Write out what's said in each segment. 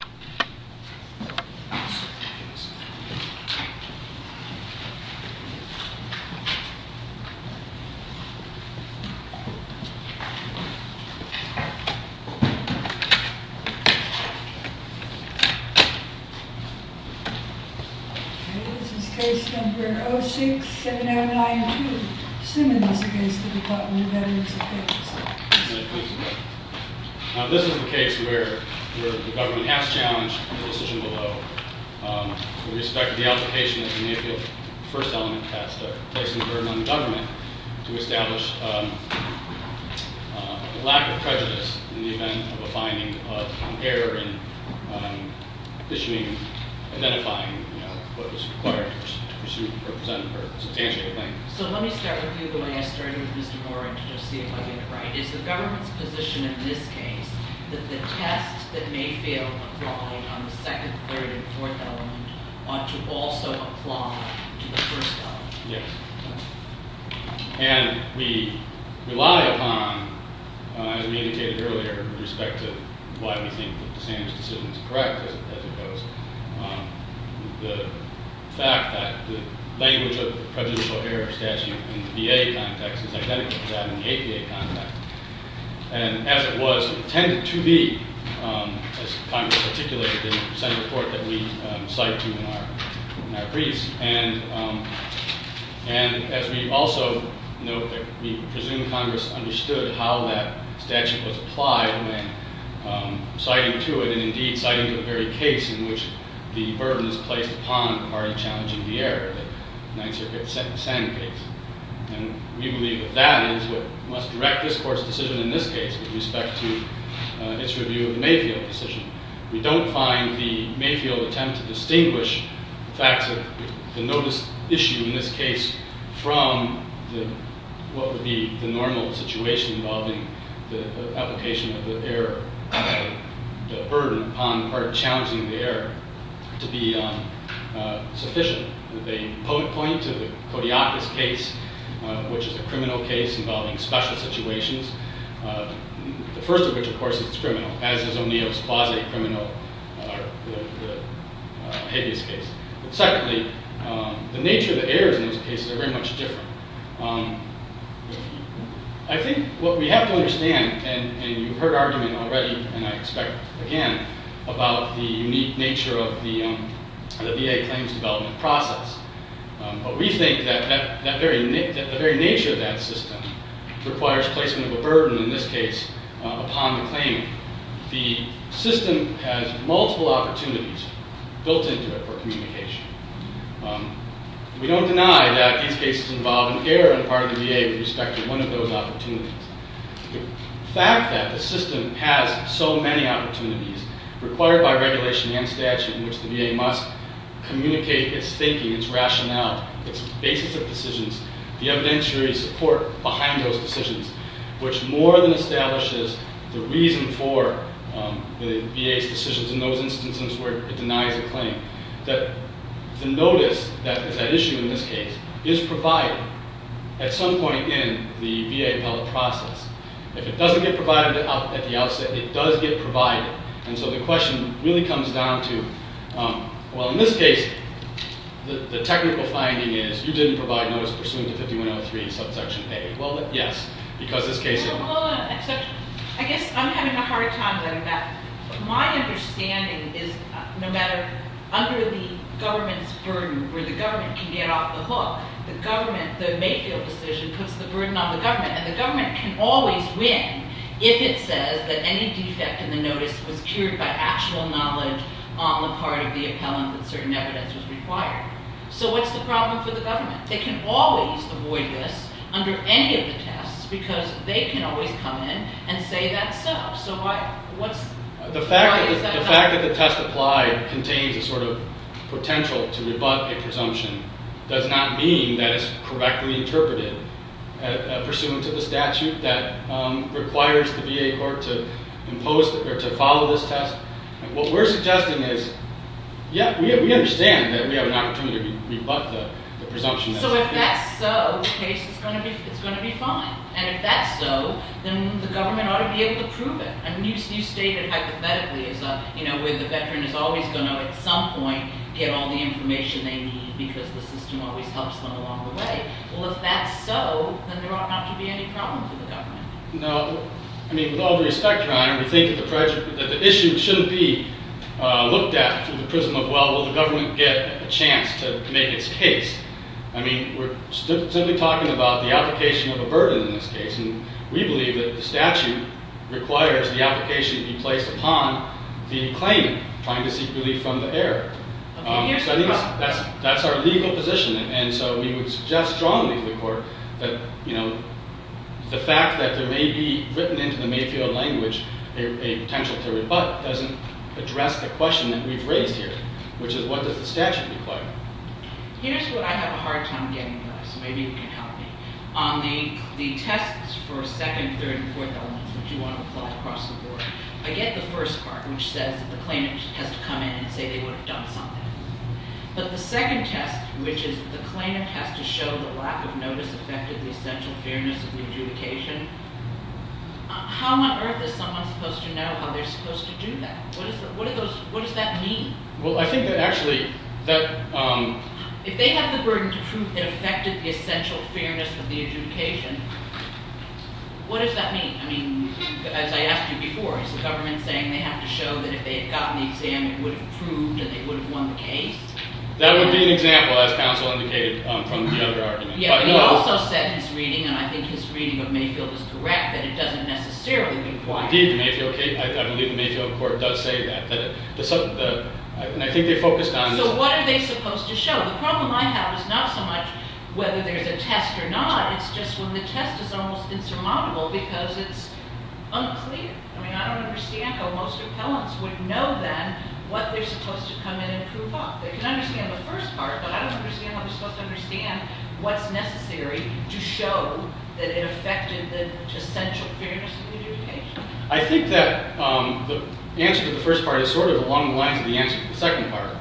This is case number 067092, Simmons v. Department of Veterans Affairs. This is a case where the government has challenged the decision below. With respect to the application of the Mayfield first element test, placing a burden on the government to establish a lack of prejudice in the event of a finding of an error in issuing, identifying what was required to pursue or present a substantial claim. So let me start with you, going, I started with Mr. Warren, to just see if I get it right. Is the government's position in this case that the tests that Mayfield applied on the second, third, and fourth element ought to also apply to the first element? Yes. And we rely upon, as we indicated earlier, with respect to why we think that the Sam's decision is correct, as it goes, the fact that the language of the prejudicial error statute in the VA context is identical to that in the APA context. And as it was intended to be, as Congress articulated in the Senate report that we cite to in our briefs, and as we also note that we presume Congress understood how that statute was applied when citing to it, and indeed citing to the very case in which the burden is placed upon the party challenging the error, the Ninth Circuit Sam case. And we believe that that is what must direct this Court's decision in this case with respect to its review of the Mayfield decision. We don't find the Mayfield attempt to distinguish the facts of the notice issue in this case from what would be the normal situation involving the application of the error, the burden upon the party challenging the error, to be sufficient. They point to the Kodiakis case, which is a criminal case involving special situations, the first of which, of course, is criminal, as is O'Neill's quasi-criminal Habeas case. Secondly, the nature of the errors in those cases are very much different. I think what we have to understand, and you've heard argument already, and I expect again, about the unique nature of the VA claims development process, but we think that the very nature of that system requires placement of a burden, in this case, upon the claimant. The system has multiple opportunities built into it for communication. We don't deny that these cases involve an error on the part of the VA with respect to one of those opportunities. The fact that the system has so many opportunities required by regulation and statute in which the VA must communicate its thinking, its rationale, its basis of decisions, the evidentiary support behind those decisions, which more than establishes the reason for the VA's decisions in those instances where it denies a claim, that the notice that is at issue in this case is provided at some point in the VA appellate process. If it doesn't get provided at the outset, it does get provided, and so the question really comes down to, well, in this case, the technical finding is you didn't provide notice pursuant to 5103, subsection A. Well, yes, because this case... I guess I'm having a hard time getting that. My understanding is no matter under the government's burden, where the government can get off the hook, the government, the Mayfield decision, puts the burden on the government, and the government can always win if it says that any defect in the notice was cured by actual knowledge on the part of the appellant that certain evidence was required. So what's the problem for the government? They can always avoid this under any of the tests because they can always come in and say that's so. So why is that a problem? The fact that the test applied contains a sort of potential to rebut a presumption does not mean that it's correctly interpreted pursuant to the statute that requires the VA court to follow this test. What we're suggesting is, yeah, we understand that we have an opportunity to rebut the presumption. So if that's so, the case is going to be fine. And if that's so, then the government ought to be able to prove it. You stated hypothetically where the veteran is always going to at some point get all the information they need because the system always helps them along the way. Well, if that's so, then there ought not to be any problem for the government. No. I mean, with all due respect, Your Honor, we think that the issue shouldn't be looked at through the prism of, well, will the government get a chance to make its case? I mean, we're simply talking about the application of a burden in this case. And we believe that the statute requires the application be placed upon the claimant trying to seek relief from the heir. So I think that's our legal position. And so we would suggest strongly to the court that, you know, the fact that there may be written into the Mayfield language a potential to rebut doesn't address the question that we've raised here, which is what does the statute require? Here's what I have a hard time getting to, so maybe you can help me. On the tests for second, third, and fourth elements that you want to apply across the board, I get the first part, which says that the claimant has to come in and say they would have done something. But the second test, which is the claimant has to show the lack of notice affected the essential fairness of the adjudication, how on earth is someone supposed to know how they're supposed to do that? What does that mean? Well, I think that actually that— If they have the burden to prove it affected the essential fairness of the adjudication, what does that mean? I mean, as I asked you before, is the government saying they have to show that if they had gotten the exam, it would have proved that they would have won the case? That would be an example, as counsel indicated from the other argument. Yeah, but he also said in his reading, and I think his reading of Mayfield is correct, that it doesn't necessarily require— Indeed, I believe the Mayfield court does say that. And I think they focused on— So what are they supposed to show? The problem I have is not so much whether there's a test or not. It's just when the test is almost insurmountable because it's unclear. I mean, I don't understand how most appellants would know then what they're supposed to come in and prove up. They can understand the first part, but I don't understand how they're supposed to understand what's necessary to show that it affected the essential fairness of the adjudication. I think that the answer to the first part is sort of along the lines of the answer to the second part.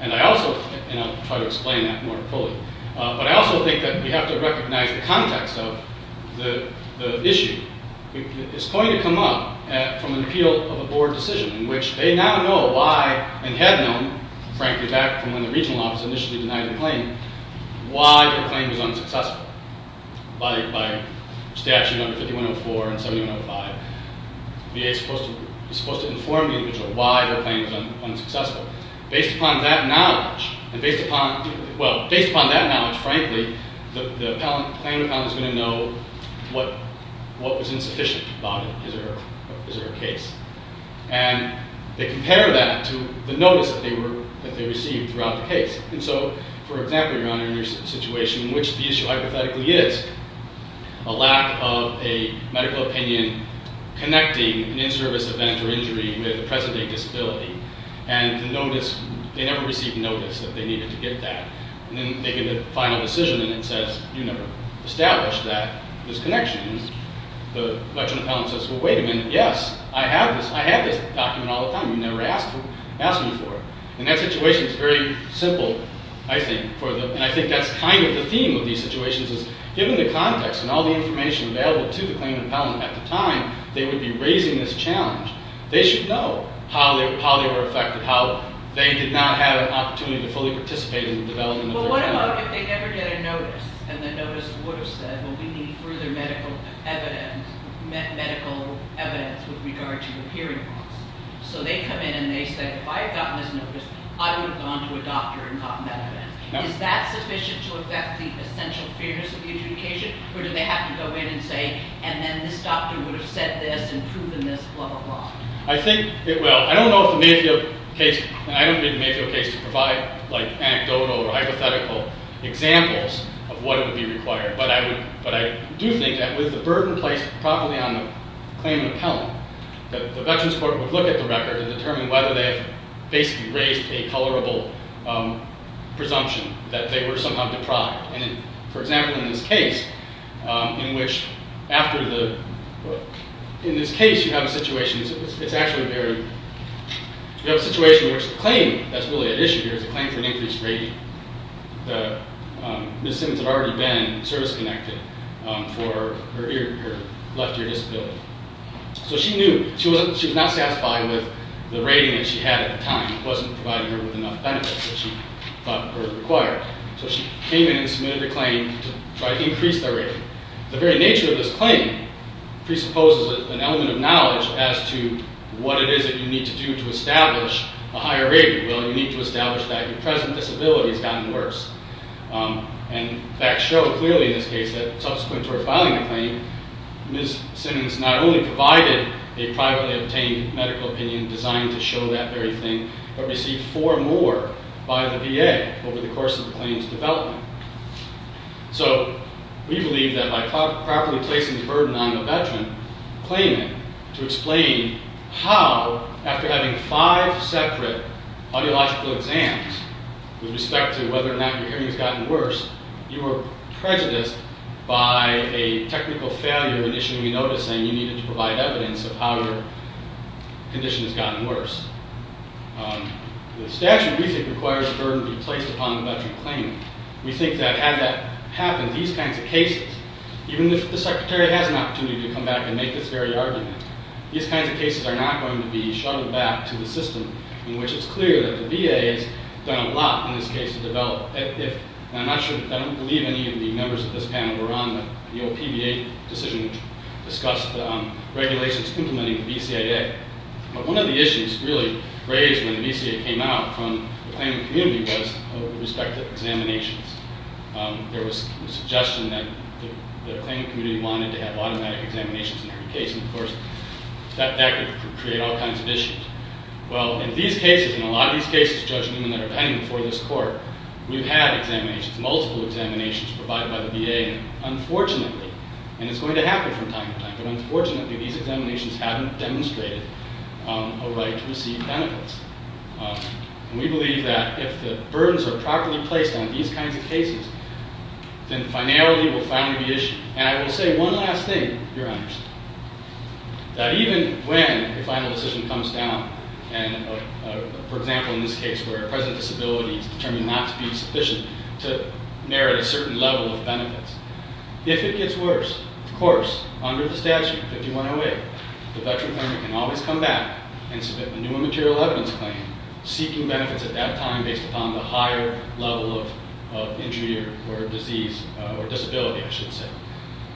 And I also—and I'll try to explain that more fully. But I also think that we have to recognize the context of the issue. It's going to come up from an appeal of a board decision in which they now know why, and had known, frankly, back from when the regional office initially denied the claim, why their claim was unsuccessful. By statute number 5104 and 7105, VA is supposed to inform the individual why their claim was unsuccessful. Based upon that knowledge, and based upon—well, based upon that knowledge, frankly, the plaintiff appellant is going to know what was insufficient about it. Is there a case? And they compare that to the notice that they received throughout the case. And so, for example, Your Honor, in your situation in which the issue hypothetically is a lack of a medical opinion connecting an in-service event or injury with a present-day disability, and the notice—they never received notice that they needed to get that. And then they get a final decision, and it says, you never established that—this connection. And the veteran appellant says, well, wait a minute. Yes, I have this. I have this document all the time. You never asked me for it. And that situation is very simple, I think, for the—and I think that's kind of the theme of these situations, is given the context and all the information available to the claimant appellant at the time, they would be raising this challenge. They should know how they were affected, how they did not have an opportunity to fully participate in the development of their claim. Well, what about if they never get a notice, and the notice would have said, well, we need further medical evidence with regard to the hearing loss? So they come in and they say, if I had gotten this notice, I would have gone to a doctor and gotten that evidence. Is that sufficient to affect the essential fairness of the adjudication, or do they have to go in and say, and then this doctor would have said this and proven this, blah, blah, blah? I think—well, I don't know if the Mayfield case—and I don't need the Mayfield case to provide anecdotal or hypothetical examples of what would be required, but I do think that with the burden placed properly on the claimant appellant, the Veterans Court would look at the record and determine whether they have basically raised a colorable presumption that they were somehow deprived. And for example, in this case, in which after the—in this case, you have a situation, it's actually very—you have a situation in which the claim that's really at issue here is a claim for an increased rating. Ms. Simmons had already been service-connected for her left ear disability. So she knew—she was not satisfied with the rating that she had at the time. It wasn't providing her with enough benefits that she thought were required. So she came in and submitted a claim to try to increase their rating. The very nature of this claim presupposes an element of knowledge as to what it is that you need to do to establish a higher rating. Well, you need to establish that your present disability has gotten worse. And facts show clearly in this case that subsequent to her filing the claim, Ms. Simmons not only provided a privately obtained medical opinion designed to show that very thing, but received four more by the VA over the course of the claim's development. So we believe that by properly placing the burden on the veteran, claiming to explain how, after having five separate audiological exams with respect to whether or not your hearing has gotten worse, you were prejudiced by a technical failure initially noticing you needed to provide evidence of how your condition has gotten worse. The statute, we think, requires the burden to be placed upon the veteran claiming. We think that had that happened, these kinds of cases, even if the Secretary has an opportunity to come back and make this very argument, these kinds of cases are not going to be shuffled back to the system in which it's clear that the VA has done a lot in this case to develop. And I'm not sure—I don't believe any of the members of this panel were on the old PBA decision which discussed regulations implementing the BCAA. But one of the issues really raised when the BCAA came out from the claimant community was with respect to examinations. There was a suggestion that the claimant community wanted to have automatic examinations in every case, and, of course, that could create all kinds of issues. Well, in these cases, in a lot of these cases, Judge Newman, that are pending before this court, we've had examinations, multiple examinations, provided by the VA. Unfortunately, and it's going to happen from time to time, but unfortunately, these examinations haven't demonstrated a right to receive benefits. And we believe that if the burdens are properly placed on these kinds of cases, then finality will finally be issued. And I will say one last thing, Your Honors, that even when a final decision comes down, and, for example, in this case where a present disability is determined not to be sufficient to merit a certain level of benefits, if it gets worse, of course, under the statute, 5108, the veteran claimant can always come back and submit a new immaterial evidence claim, seeking benefits at that time based upon the higher level of injury or disease, or disability, I should say.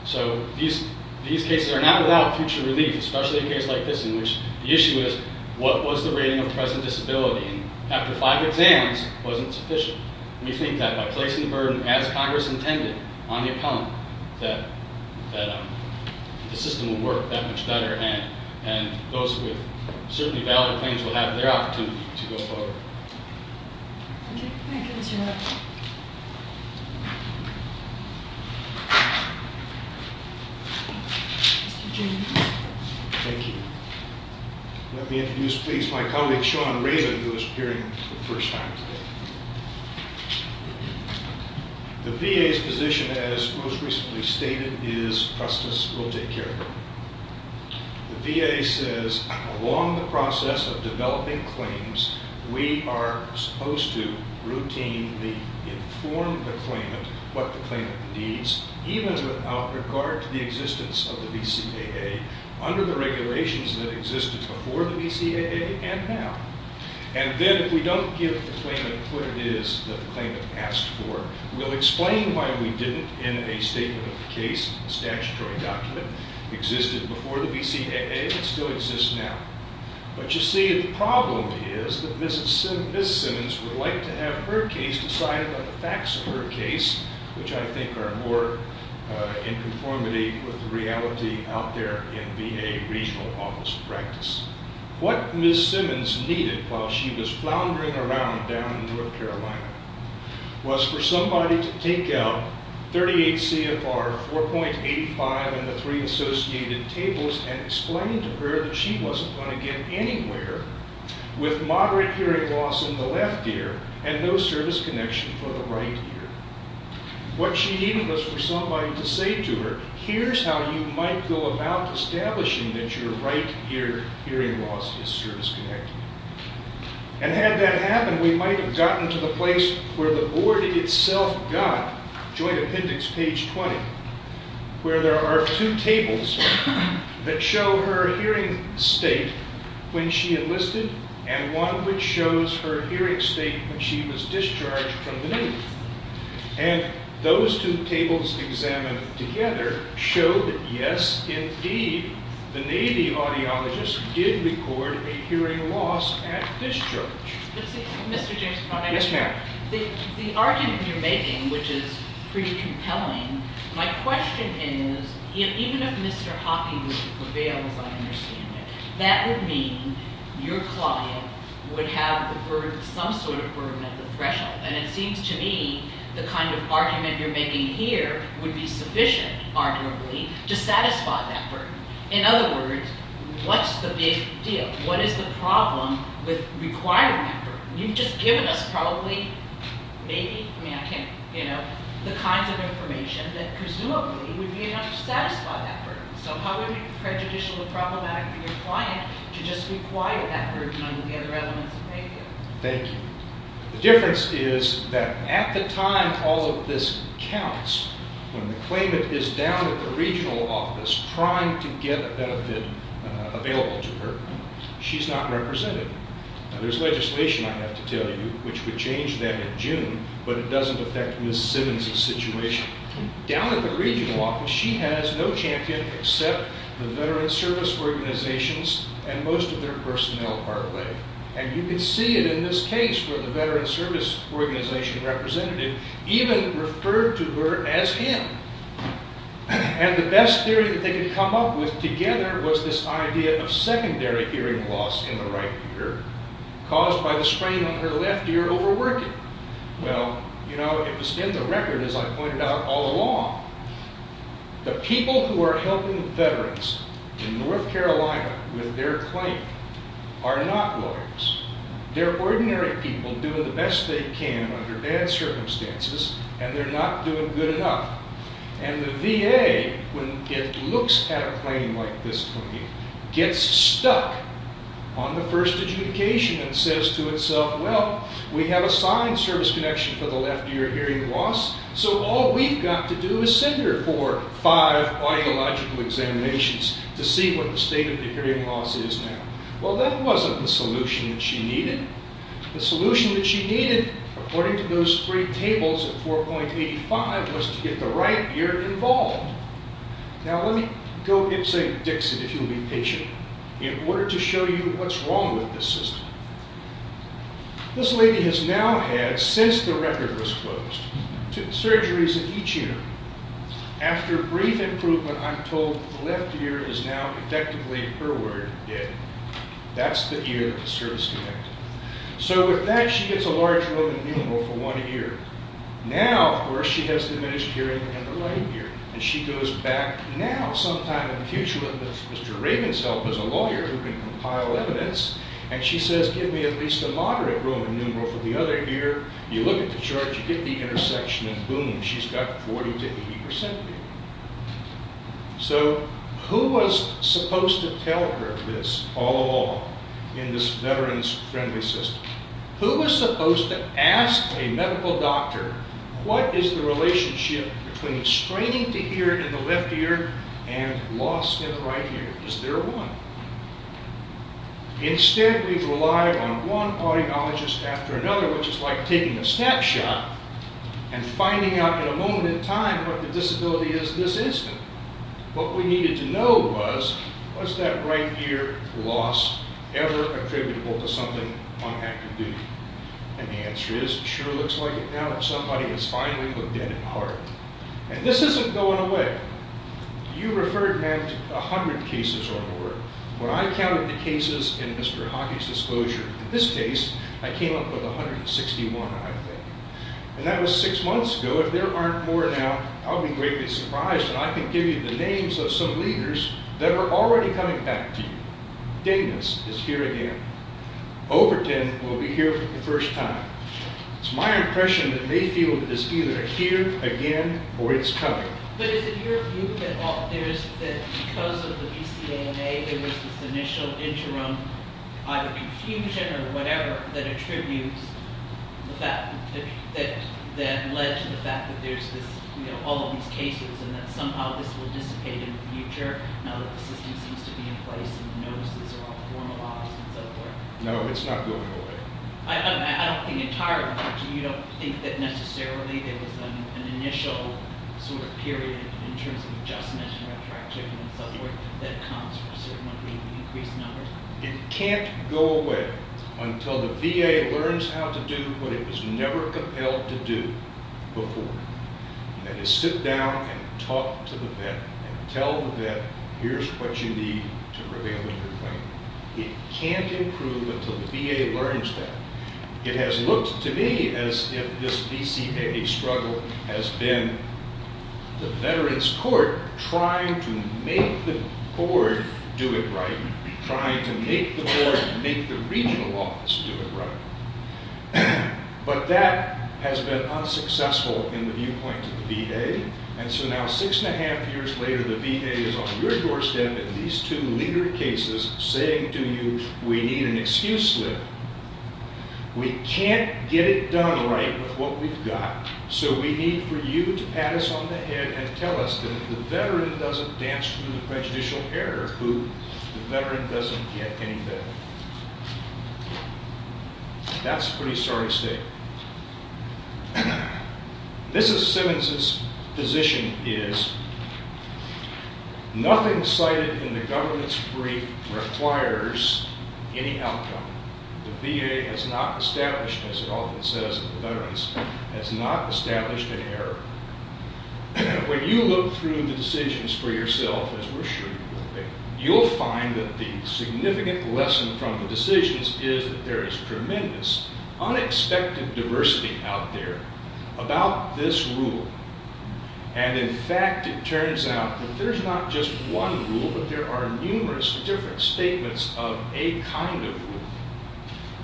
So these cases are not without future relief, especially a case like this in which the issue is, what was the rating of present disability? And after five exams, it wasn't sufficient. We think that by placing the burden, as Congress intended, on the appellant, that the system will work that much better, and those with certainly valid claims will have their opportunity to go forward. Thank you. Thank you, Mr. Wright. Mr. James. Thank you. Let me introduce, please, my colleague, Sean Raymond, who is appearing for the first time today. The VA's position, as most recently stated, is trust us, we'll take care of it. The VA says, along the process of developing claims, we are supposed to routinely inform the claimant what the claimant needs, even without regard to the existence of the BCAA, under the regulations that existed before the BCAA and now. And then if we don't give the claimant what it is that the claimant asked for, we'll explain why we didn't in a statement of the case, statutory document, existed before the BCAA and still exists now. But you see, the problem is that Ms. Simmons would like to have her case decided on the facts of her case, which I think are more in conformity with the reality out there in VA regional office practice. What Ms. Simmons needed while she was floundering around down in North Carolina was for somebody to take out 38 CFR 4.85 and the three associated tables and explain to her that she wasn't going to get anywhere with moderate hearing loss in the left ear and no service connection for the right ear. What she needed was for somebody to say to her, here's how you might go about establishing that your right ear hearing loss is service connected. And had that happened, we might have gotten to the place where the board itself got joint appendix page 20, where there are two tables that show her hearing state when she enlisted and one which shows her hearing state when she was discharged from the Navy. And those two tables examined together showed that, yes, indeed, the Navy audiologist did record a hearing loss at discharge. Mr. James Cronin. Yes, ma'am. The argument you're making, which is pretty compelling, my question is, even if Mr. Hockey would prevail as I understand it, that would mean your client would have the burden, some sort of burden at the threshold. And it seems to me the kind of argument you're making here would be sufficient, arguably, to satisfy that burden. In other words, what's the big deal? What is the problem with requiring that burden? You've just given us probably, maybe, I mean I can't, you know, the kinds of information that presumably would be enough to satisfy that burden. So how would it be prejudicial and problematic for your client to just require that burden on the other elements of pay care? Thank you. The difference is that at the time all of this counts, when the claimant is down at the regional office trying to get a benefit available to her, she's not represented. There's legislation, I have to tell you, which would change that in June, but it doesn't affect Ms. Simmons' situation. Down at the regional office she has no champion except the veteran service organizations and most of their personnel, partly. And you can see it in this case where the veteran service organization representative even referred to her as him. And the best theory that they could come up with together was this idea of secondary hearing loss in the right ear caused by the sprain on her left ear overworking. Well, you know, it was in the record, as I pointed out all along, the people who are helping veterans in North Carolina with their claim are not lawyers. They're ordinary people doing the best they can under bad circumstances, and they're not doing good enough. And the VA, when it looks at a claim like this, gets stuck on the first adjudication and says to itself, well, we have a signed service connection for the left ear hearing loss, so all we've got to do is send her for five audiological examinations to see what the state of the hearing loss is now. Well, that wasn't the solution that she needed. The solution that she needed, according to those three tables of 4.85, was to get the right ear involved. Now, let me go give St. Dixit, if you'll be patient, in order to show you what's wrong with this system. This lady has now had, since the record was closed, two surgeries in each ear. After brief improvement, I'm told the left ear is now effectively, per word, dead. That's the ear that the service connected. So with that, she gets a large Roman numeral for one ear. Now, of course, she has diminished hearing in the right ear, and she goes back now sometime in the future with Mr. Raven's help as a lawyer who can compile evidence, and she says, give me at least a moderate Roman numeral for the other ear. You look at the chart, you get the intersection, and boom, she's got 40% to 80% hearing. So who was supposed to tell her this all along in this veterans-friendly system? Who was supposed to ask a medical doctor, what is the relationship between straining the ear in the left ear and loss in the right ear? Is there one? Instead, we've relied on one audiologist after another, which is like taking a snapshot and finding out in a moment in time what the disability is this instant. What we needed to know was, was that right ear loss ever attributable to something on active duty? And the answer is, it sure looks like it now that somebody has finally looked in at heart. And this isn't going away. You referred, Matt, 100 cases or more. When I counted the cases in Mr. Hockey's disclosure, in this case, I came up with 161, I think. And that was six months ago. If there aren't more now, I'll be greatly surprised that I can give you the names of some leaders that are already coming back to you. Danis is here again. Overton will be here for the first time. It's my impression that Mayfield is either here again or it's coming. But is it your view that because of the PCAMA, there was this initial interim, either confusion or whatever, that led to the fact that there's all of these cases and that somehow this will dissipate in the future now that the system seems to be in place and the notices are all formalized and so forth? No, it's not going away. I don't think entirely. You don't think that necessarily there was an initial sort of period in terms of adjustment and retroactivity and so forth that comes for a certain number of increased numbers? It can't go away until the VA learns how to do what it was never compelled to do before, and that is sit down and talk to the vet and tell the vet, here's what you need to prevail in your claim. It can't improve until the VA learns that. It has looked to me as if this VCA struggle has been the veterans court trying to make the board do it right, trying to make the board, make the regional office do it right. But that has been unsuccessful in the viewpoint of the VA, and so now six and a half years later the VA is on your doorstep in these two legal cases saying to you, we need an excuse slip. We can't get it done right with what we've got, so we need for you to pat us on the head and tell us that if the veteran doesn't dance through the prejudicial error, the veteran doesn't get any better. That's a pretty sorry state. Mrs. Simmons's position is, nothing cited in the government's brief requires any outcome. The VA has not established, as it often says with veterans, has not established an error. When you look through the decisions for yourself, as we're sure you will, you'll find that the significant lesson from the decisions is that there is tremendous, unexpected diversity out there about this rule, and in fact it turns out that there's not just one rule, but there are numerous different statements of a kind of rule,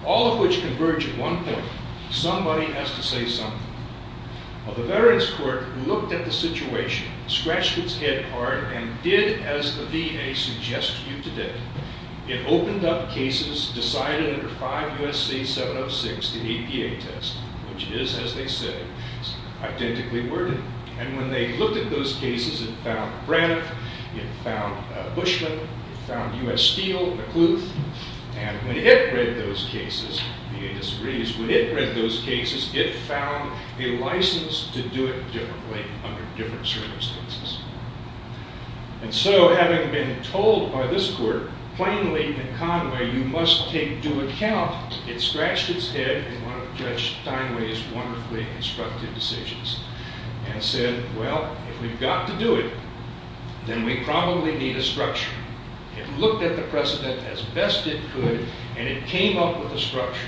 all of which converge at one point. Somebody has to say something. Well, the veterans court looked at the situation, scratched its head hard, and did as the VA suggests to you today. It opened up cases decided under 5 U.S.C. 706, the APA test, which is, as they say, identically worded. And when they looked at those cases, it found Braniff, it found Bushman, it found U.S. Steele, McClouth, and when it read those cases, the VA disagrees, when it read those cases, it found a license to do it differently under different circumstances. And so having been told by this court plainly in Conway, you must take into account it scratched its head in one of Judge Steinway's wonderfully instructive decisions and said, well, if we've got to do it, then we probably need a structure. It looked at the precedent as best it could, and it came up with a structure.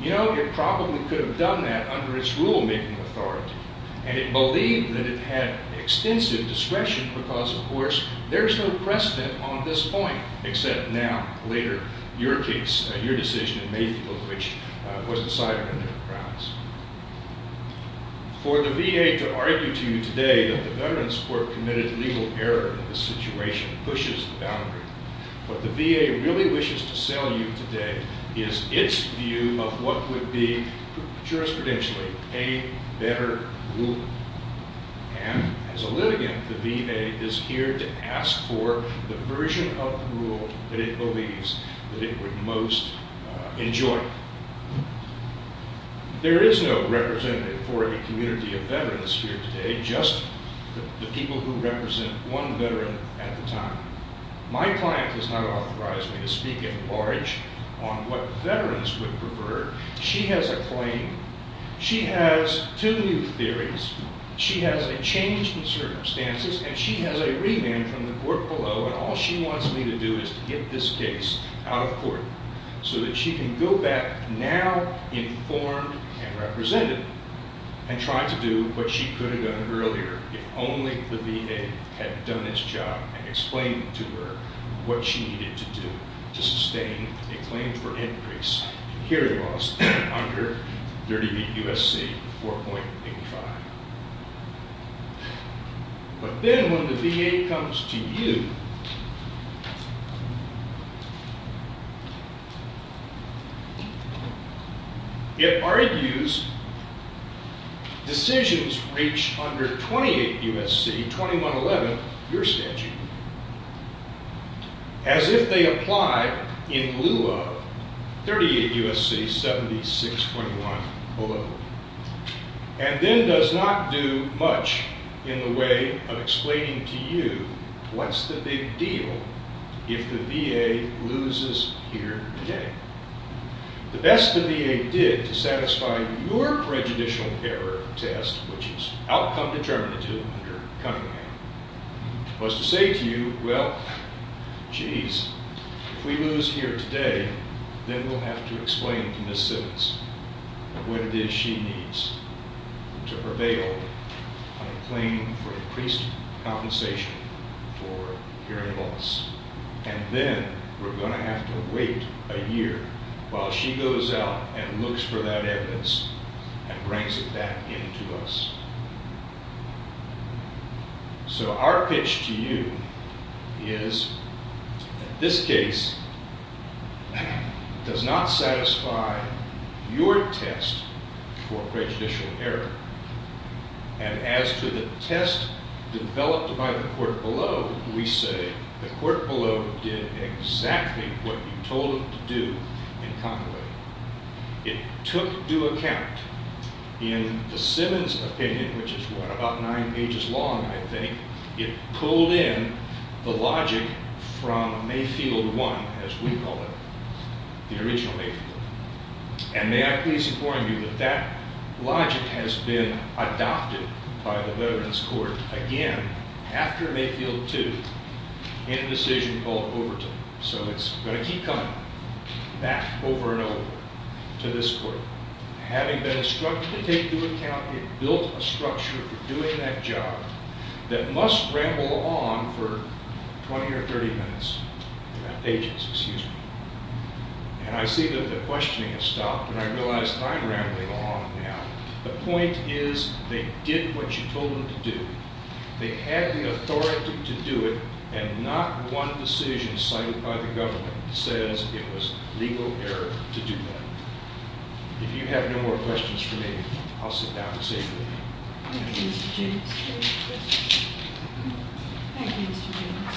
You know, it probably could have done that under its rule-making authority, and it believed that it had extensive discretion because, of course, there's no precedent on this point, except now, later, your case, your decision, in Mayfield, which was decided under the grounds. For the VA to argue to you today that the Veterans Court committed legal error in this situation pushes the boundary. What the VA really wishes to sell you today is its view of what would be jurisprudentially a better rule. And as a litigant, the VA is here to ask for the version of the rule that it believes that it would most enjoy. There is no representative for a community of veterans here today, just the people who represent one veteran at the time. My client has not authorized me to speak at large on what veterans would prefer. She has a claim. She has two new theories. She has a change in circumstances, and she has a remand from the court below, and all she wants me to do is to get this case out of court so that she can go back now informed and represented and try to do what she could have done earlier if only the VA had done its job and explained to her what she needed to do to sustain a claim for increase. Here it was, under 38 U.S.C., 4.85. But then when the VA comes to you, it argues decisions reached under 28 U.S.C., 2111, your statute, as if they apply in lieu of 38 U.S.C., 7621 below, and then does not do much in the way of explaining to you what's the big deal if the VA loses here today. The best the VA did to satisfy your prejudicial error test, which is outcome determinative under Cunningham, was to say to you, well, geez, if we lose here today, then we'll have to explain to Ms. Simmons what it is she needs to prevail on a claim for increased compensation for hearing loss. And then we're going to have to wait a year while she goes out and looks for that evidence and brings it back in to us. So our pitch to you is that this case does not satisfy your test for prejudicial error. And as to the test developed by the court below, we say the court below did exactly what you told it to do in Conway. It took due account in the Simmons opinion, which is, what, about nine pages long, I think. It pulled in the logic from Mayfield 1, as we call it, the original Mayfield. And may I please inform you that that logic has been adopted by the Veterans Court again after Mayfield 2 in a decision called Overton. So it's going to keep coming back over and over to this court. Having been instructed to take due account, it built a structure for doing that job that must ramble on for 20 or 30 minutes, pages, excuse me. And I see that the questioning has stopped, and I realize I'm rambling on now. The point is they did what you told them to do. They had the authority to do it, and not one decision cited by the government says it was legal error to do that. If you have no more questions for me, I'll sit down and say a few things. Thank you, Mr. James. Thank you, Mr. James.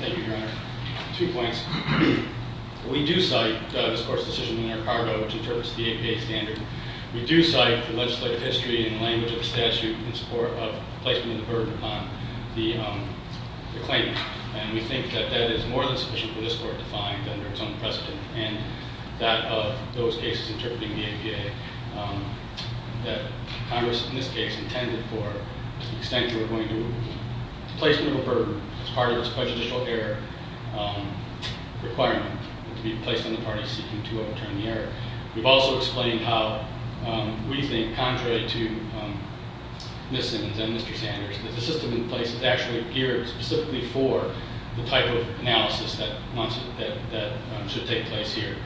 Thank you, Your Honor. Two points. We do cite this court's decision in Ricardo which interprets the APA standard. We do cite the legislative history and language of the statute in support of placing the burden upon the claimant. And we think that that is more than sufficient for this court to find under its own precedent and that of those cases interpreting the APA that Congress, in this case, intended for the extent to which we're going to place a little burden as part of its prejudicial error requirement to be placed on the parties seeking to overturn the error. We've also explained how we think, contrary to Ms. Simmons and Mr. Sanders, that the system in place is actually geared specifically for the type of analysis that should take place here.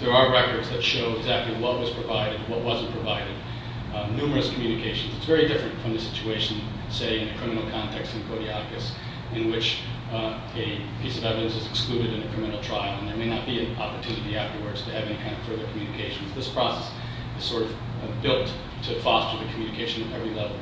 There are records that show exactly what was provided, what wasn't provided. Numerous communications. It's very different from the situation, say, in a criminal context in Codiacus, in which a piece of evidence is excluded in a criminal trial and there may not be an opportunity afterwards to have any kind of further communications. This process is sort of built to foster the communication at every level.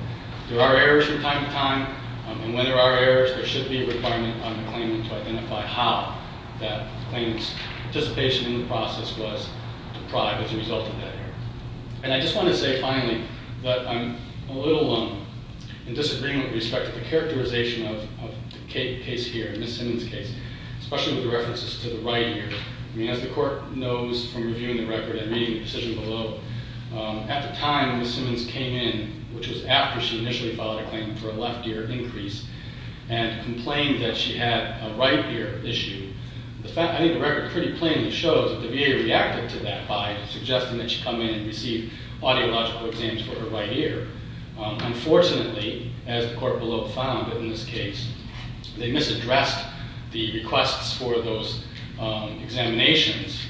There are errors from time to time. And when there are errors, there should be a requirement on the claimant to identify how that claimant's participation in the process was deprived as a result of that error. And I just want to say, finally, that I'm a little in disagreement with respect to the characterization of the case here, Ms. Simmons' case, especially with the references to the right ear. I mean, as the court knows from reviewing the record and reading the decision below, at the time Ms. Simmons came in, which was after she initially filed a claim for a left ear increase, and complained that she had a right ear issue, I think the record pretty plainly shows that the VA reacted to that by suggesting that she come in and receive audiological exams for her right ear. Unfortunately, as the court below found in this case, they misaddressed the requests for those examinations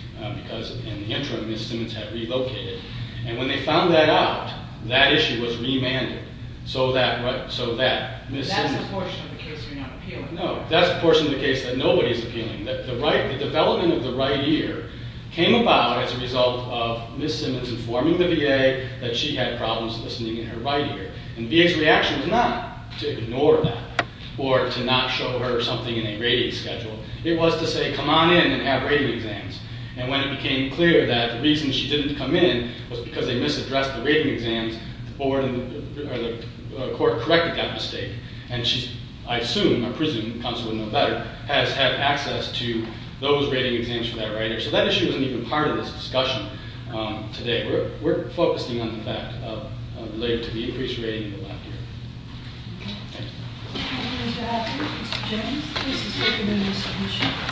because in the interim, Ms. Simmons had relocated. And when they found that out, that issue was remanded. That's a portion of the case you're not appealing. No. That's a portion of the case that nobody's appealing. The development of the right ear came about as a result of Ms. Simmons informing the VA that she had problems listening in her right ear. And VA's reaction was not to ignore that or to not show her something in a rating schedule. It was to say, come on in and have rating exams. And when it became clear that the reason she didn't come in was because they misaddressed the rating exams, the court corrected that mistake. And she's, I assume, I presume, counsel would know better, has had access to those rating exams for that right ear. So that issue isn't even part of this discussion today. We're focusing on the fact of related to the increased rating of the left ear. Okay. Thank you. Thank you, Mr. Atkins. Mr. Jones, please. This has been an interesting issue.